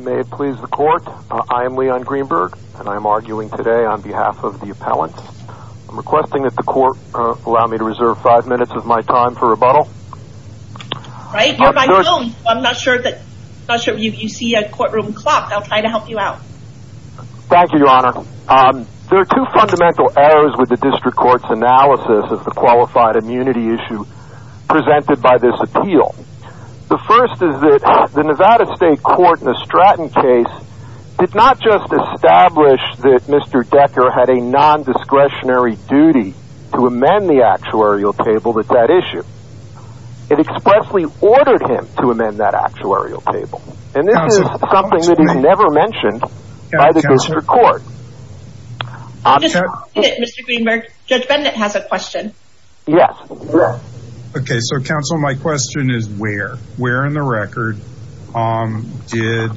May it please the court I am Leon Greenberg and I am arguing today on behalf of the appellant. I'm requesting that the court allow me to reserve five minutes of my time for rebuttal. I'm not sure that you see a courtroom clock I'll try to help you out. Thank you your honor. There are two fundamental errors with the district courts analysis of the qualified immunity issue presented by this appeal. The first is that the Nevada State Court in the Stratton case did not just establish that Mr. Decker had a non-discretionary duty to amend the actuarial table with that issue. It expressly ordered him to amend that actuarial table and this is something that is never mentioned by the district court. My question is where? Where in the record did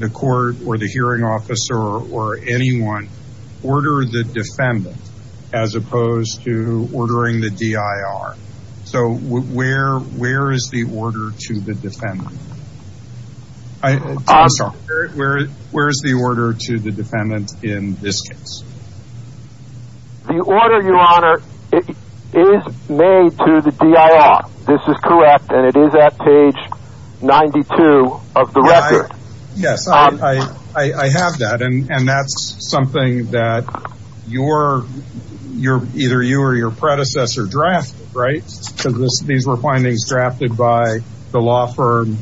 the court or the hearing officer or anyone order the defendant as opposed to ordering the DIR? So where where is the order to the defendant? I'm sorry, where is the order to the DIR? This is correct and it is at page 92 of the record. Yes I have that and that's something that you're you're either you or your predecessor drafted right because these were findings drafted by the law firm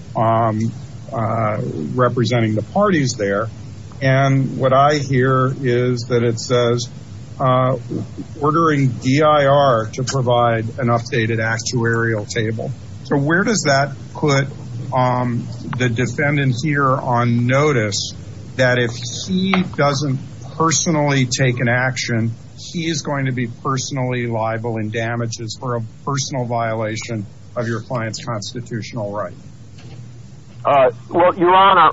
representing the parties there and what I hear is that it says ordering DIR to provide an updated actuarial table. So where does that put the defendant here on notice that if he doesn't personally take an action he is going to be personally liable in damages for a personal violation of your client's constitutional right? Your Honor,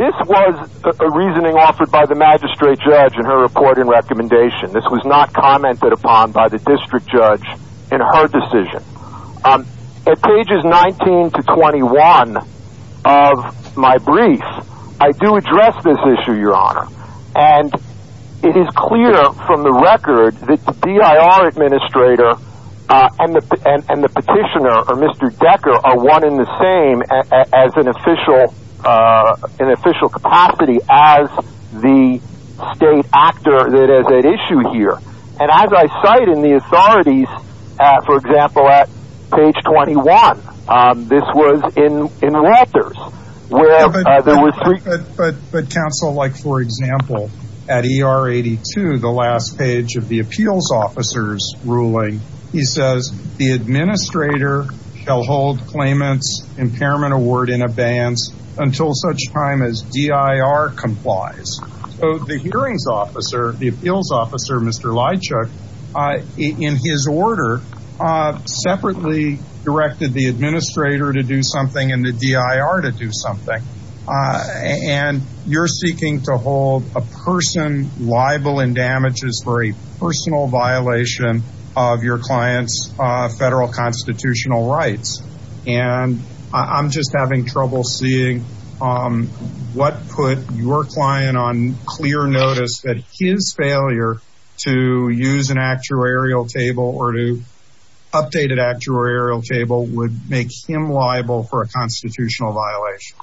this was a reasoning offered by the magistrate judge in her report and recommendation. This was not commented upon by the decision. At pages 19 to 21 of my brief I do address this issue your honor and it is clear from the record that the DIR administrator and the petitioner or Mr. Decker are one in the same as an official an official capacity as the state actor that is at issue here and as I cite in the authorities for example at page 21 this was in in Walters. But counsel like for example at ER 82 the last page of the appeals officers ruling he says the administrator shall hold claimants impairment award in abeyance until such time as DIR complies. So the hearings officer the appeals officer Mr. Leitchuk in his order separately directed the administrator to do something and the DIR to do something and you're seeking to hold a person liable in damages for a personal violation of your clients federal constitutional rights and I'm just having trouble seeing what put your client on clear notice that his failure to use an actuarial table or to updated actuarial table would make him liable for a constitutional violation.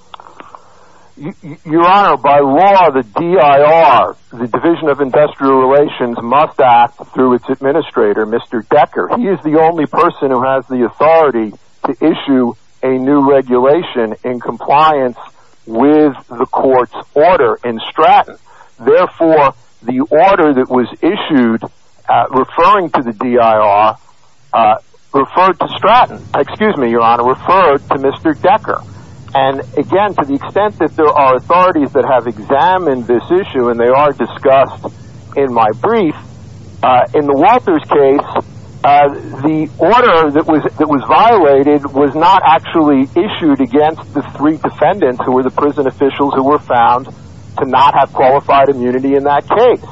Your honor by law the DIR the Division of Industrial Relations must act through its administrator Mr. Decker he is the only person who has the authority to issue a new regulation in compliance with the court's order in Stratton therefore the order that was issued referring to the DIR referred to Stratton excuse me your honor referred to Mr. Decker and again to the extent that there are authorities that have examined this issue and they are discussed in my brief in the Walters case the order that was that was violated was not actually issued against the three defendants who were the prison officials who were found to not have qualified immunity in that case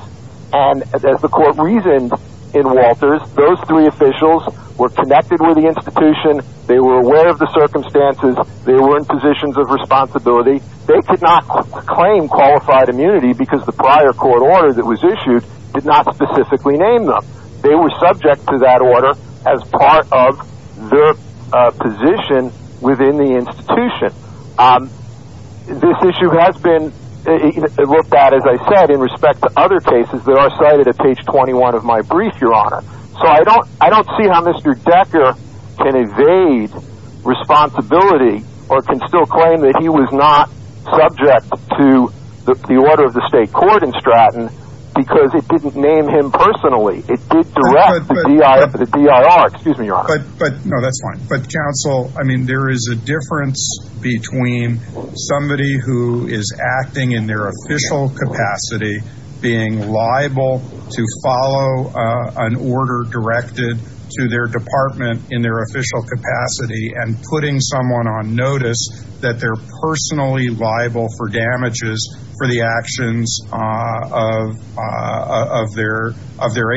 and as the court reasoned in Walters those three officials were connected with the institution they were aware of the circumstances they were in positions of responsibility they could not claim qualified immunity because the prior court order that was issued did not specifically name them they were subject to that order as part of the position within the institution this issue has been looked at as I said in respect to other cases that are cited at page 21 of my brief your honor so I don't I don't see how mr. Decker can evade responsibility or can still claim that he was not subject to the order of the state court in Stratton because it didn't name him personally it did direct the DIR excuse me your honor but no that's fine but counsel I mean there is a difference between somebody who is acting in their official capacity being liable to follow an order directed to their department in their official capacity and putting someone on notice that they're personally liable for damages for the actions of their of their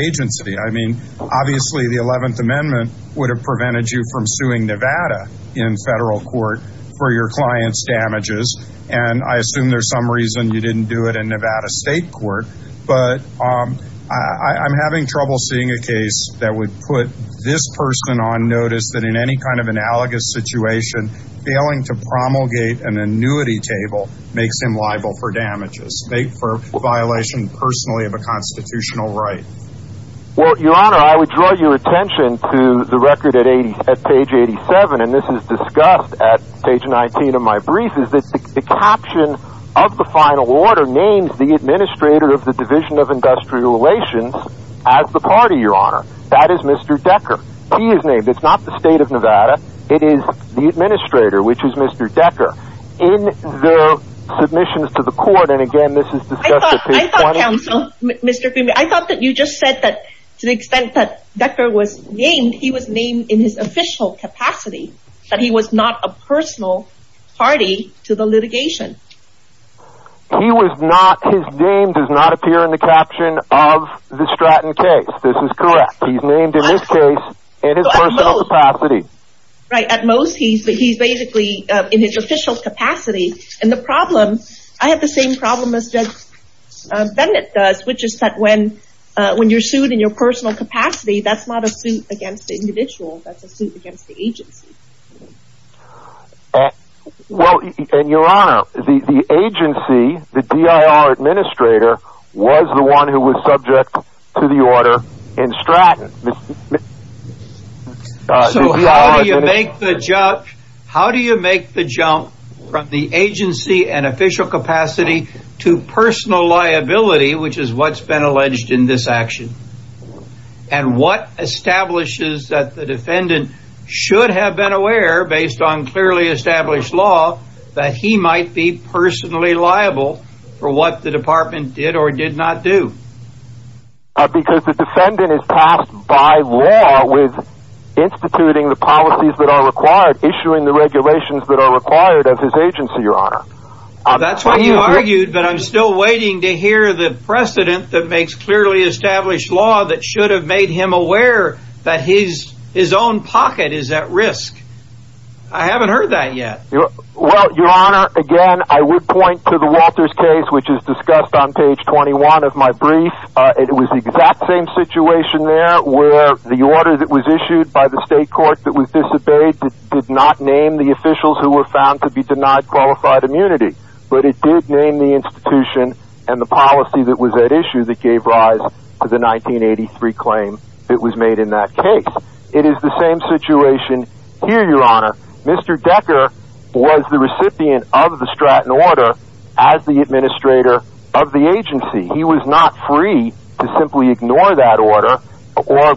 in federal court for your clients damages and I assume there's some reason you didn't do it in Nevada State Court but I'm having trouble seeing a case that would put this person on notice that in any kind of analogous situation failing to promulgate an annuity table makes him liable for damages make for violation personally of a constitutional right well your honor I would draw your at page 87 and this is discussed at page 19 of my brief is that the caption of the final order names the administrator of the division of industrial relations as the party your honor that is mr. Decker he is named it's not the state of Nevada it is the administrator which is mr. Decker in the submissions to the court and again this is mr. I thought that you just said that to the extent that Decker was named he was named in his official capacity but he was not a personal party to the litigation he was not his name does not appear in the caption of the Stratton case this is correct he's named in this case it is a little capacity right at most he's but he's basically in his official capacity and the problem I have the same problem as judge Bennett does which is that when you're sued in your personal capacity that's not a suit against the individual that's a suit against the agency well in your honor the agency the DIR administrator was the one who was subject to the order in Stratton so how do you make the jump how do you make the jump from the agency and official capacity to personal liability which is what's been alleged in this action and what establishes that the defendant should have been aware based on clearly established law that he might be personally liable for what the department did or did not do because the defendant is passed by law with instituting the policies that are required issuing the regulations that are required of his agency your honor that's why you argued but I'm still waiting to make clearly established law that should have made him aware that he's his own pocket is at risk I haven't heard that yet your honor again I would point to the Walters case which is discussed on page 21 of my brief it was the exact same situation there where the order that was issued by the state court that was disobeyed did not name the officials who were found to be denied qualified immunity but it did name the institution and the policy that was at issue that gave rise to the 1983 claim it was made in that case it is the same situation here your honor Mr. Decker was the recipient of the Stratton order as the administrator of the agency he was not free to simply ignore that order or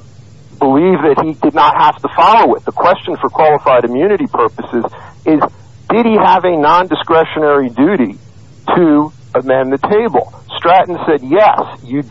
believe that he did not have to follow it the question for qualified immunity purposes is did he have a non-discretionary duty to amend the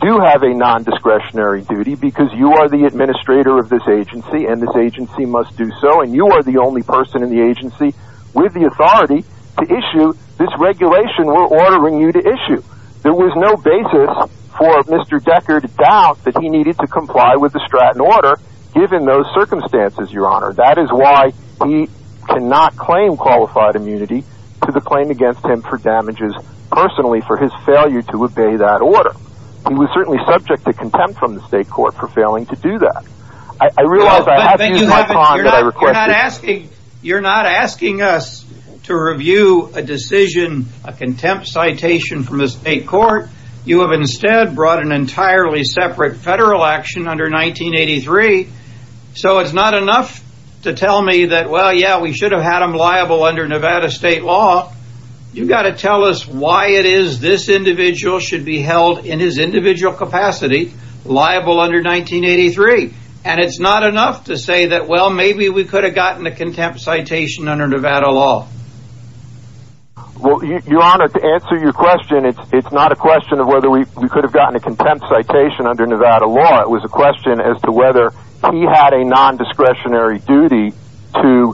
do you have a non-discretionary duty because you are the administrator of this agency and this agency must do so and you are the only person in the agency with the authority to issue this regulation we're ordering you to issue there was no basis for Mr. Decker to doubt that he needed to comply with the Stratton order given those circumstances your honor that is why he cannot claim qualified immunity to the claim against him for damages personally for his failure to obey that order he was certainly subject to contempt from the state court for failing to do that I realize I have to use my time that I requested you're not asking us to review a decision a contempt citation from the state court you have instead brought an entirely separate federal action under 1983 so it's not enough to tell me that well yeah we should have had him liable under Nevada state law you got to tell us why it is this individual should be held in his individual capacity liable under 1983 and it's not enough to say that well maybe we could have gotten a contempt citation under Nevada law well your honor to answer your question it's not a question of whether we could have gotten a contempt citation under Nevada law it was a question as to whether he had a non-discretionary duty to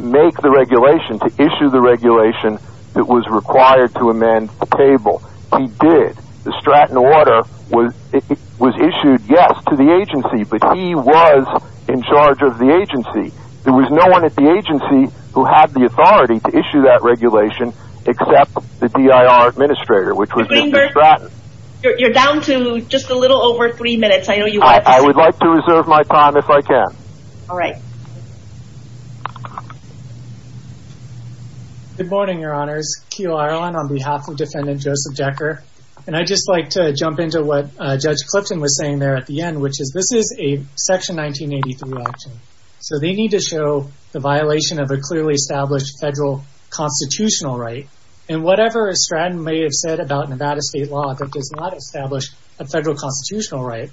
make the regulation to issue the regulation that was required to amend the table he did the Stratton order was it was issued yes to the agency but he was in charge of the agency there was no one at the agency who had the authority to issue that regulation except the DIR administrator which was Mr. Stratton you're down to just a little over three minutes I know you I would like to reserve my time if I can all right good morning your honors Keil Ireland on behalf of defendant Joseph Decker and I just like to jump into what Judge Clifton was saying there at the end which is this is a section 1983 action so they need to show the violation of a clearly established federal constitutional right and whatever a Stratton may have said about Nevada state law that does not establish a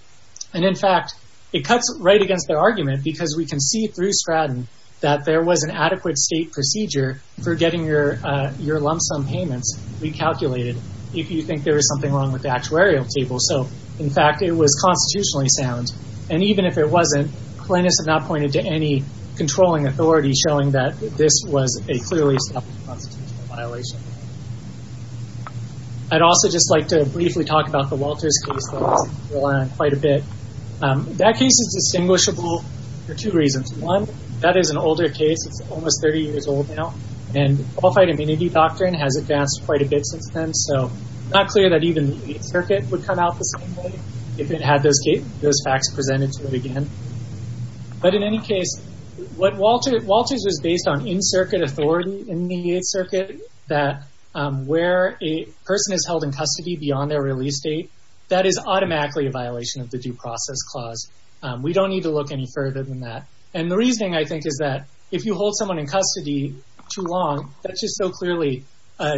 and in fact it cuts right against their argument because we can see through Stratton that there was an adequate state procedure for getting your your lump-sum payments recalculated if you think there is something wrong with the actuarial table so in fact it was constitutionally sound and even if it wasn't plaintiffs have not pointed to any controlling authority showing that this was a clearly I'd also just like to briefly talk about the Walters case quite a bit that case is distinguishable for two reasons one that is an older case it's almost 30 years old now and qualified immunity doctrine has advanced quite a bit since then so not clear that even the circuit would come out the same way if it had those gate those facts presented to it again but in any case what Walter Walters was based on in circuit authority in the 8th circuit that where a person is held in custody beyond their release date that is automatically a violation of the due process clause we don't need to look any further than that and the reasoning I think is that if you hold someone in custody too long that's just so clearly a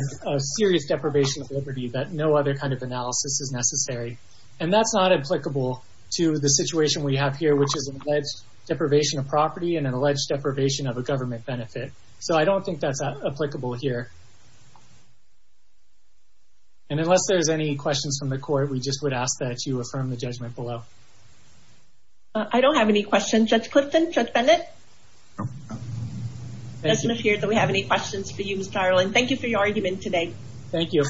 serious deprivation of liberty that no other kind of analysis is necessary and that's not applicable to the situation we have here which is an alleged deprivation of property and an alleged deprivation of a government benefit so I don't think that's applicable here and I ask that you affirm the judgment below I don't have any questions judge Clifton judge Bennett doesn't appear that we have any questions for you Mr. Ireland thank you for your argument today thank you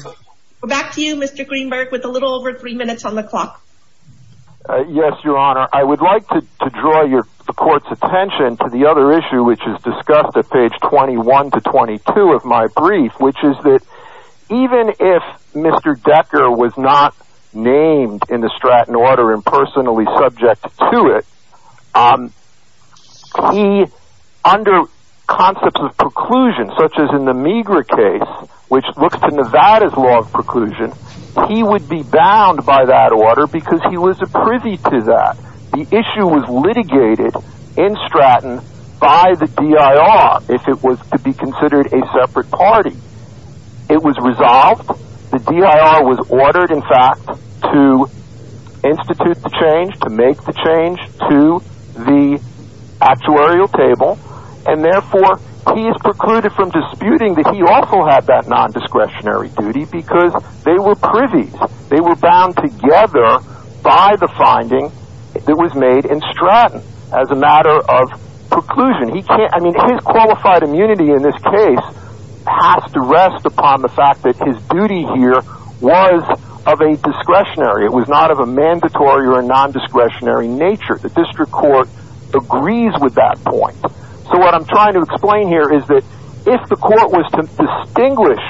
we're back to you mr. Greenberg with a little over three minutes on the clock yes your honor I would like to draw your court's attention to the other issue which is discussed at page 21 to 22 of my brief which is that even if mr. Decker was not named in the Stratton order and personally subject to it he under concepts of preclusion such as in the meagre case which looks to Nevada's law of preclusion he would be bound by that order because he was a privy to that the issue was litigated in Stratton by the DIR if it was to be considered a to institute the change to make the change to the actuarial table and therefore he is precluded from disputing that he also had that non-discretionary duty because they were privy they were bound together by the finding that was made in Stratton as a matter of preclusion he can't I mean his qualified immunity in this case has to rest upon the fact that his duty here was of a discretionary it was not of a mandatory or a non-discretionary nature the district court agrees with that point so what I'm trying to explain here is that if the court was to distinguish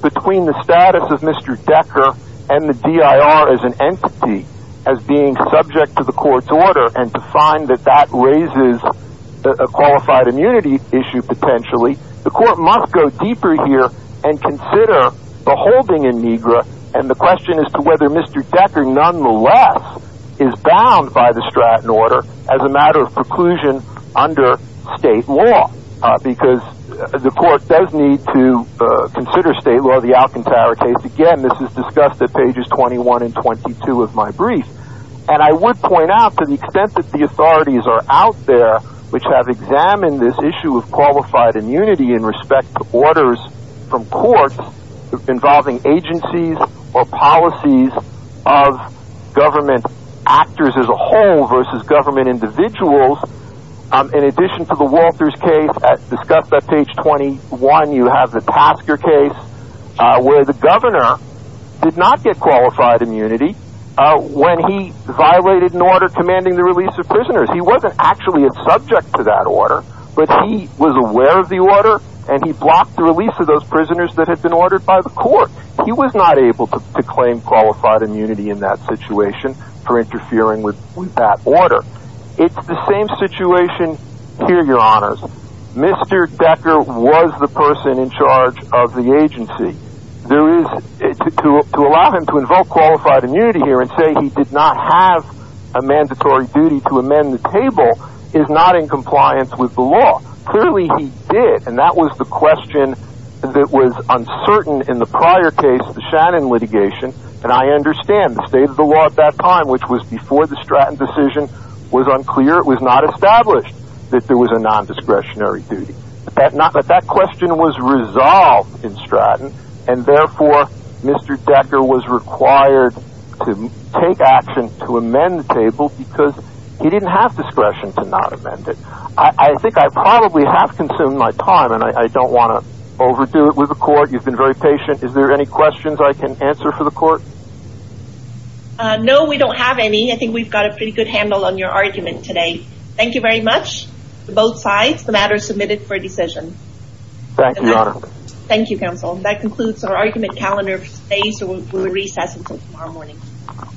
between the status of mr. Decker and the DIR as an entity as being subject to the court's order and to find that that raises a qualified immunity issue potentially the court must go deeper here and consider the holding in Negra and the question is to whether mr. Decker nonetheless is bound by the Stratton order as a matter of preclusion under state law because the court does need to consider state law the Alcantara case again this is discussed at pages 21 and 22 of my brief and I would point out to the extent that the authorities are out there which have examined this issue of qualified immunity in respect to orders from court involving agencies or policies of government actors as a whole versus government individuals in addition to the Walters case at discussed at page 21 you have the Tasker case where the governor did not get qualified immunity when he violated an order commanding the release of prisoners he wasn't actually a subject to that order but he was aware of the order and he blocked the release of those prisoners that had been ordered by the court he was not able to claim qualified immunity in that situation for interfering with that order it's the same situation here your honors mr. Decker was the person in charge of the agency there is it to allow him to invoke qualified immunity here and say he did not have a mandatory duty to amend the table is not in compliance with the law clearly he did and that was the question that was uncertain in the prior case the Shannon litigation and I understand the state of the law at that time which was before the Stratton decision was unclear it was not established that there was a non-discretionary duty that not but that question was resolved in Stratton and to amend the table because he didn't have discretion to not amend it I think I probably have consumed my time and I don't want to overdo it with the court you've been very patient is there any questions I can answer for the court no we don't have any I think we've got a pretty good handle on your argument today thank you very much both sides the matter is submitted for a decision thank you thank you counsel that concludes our argument calendar space or recess until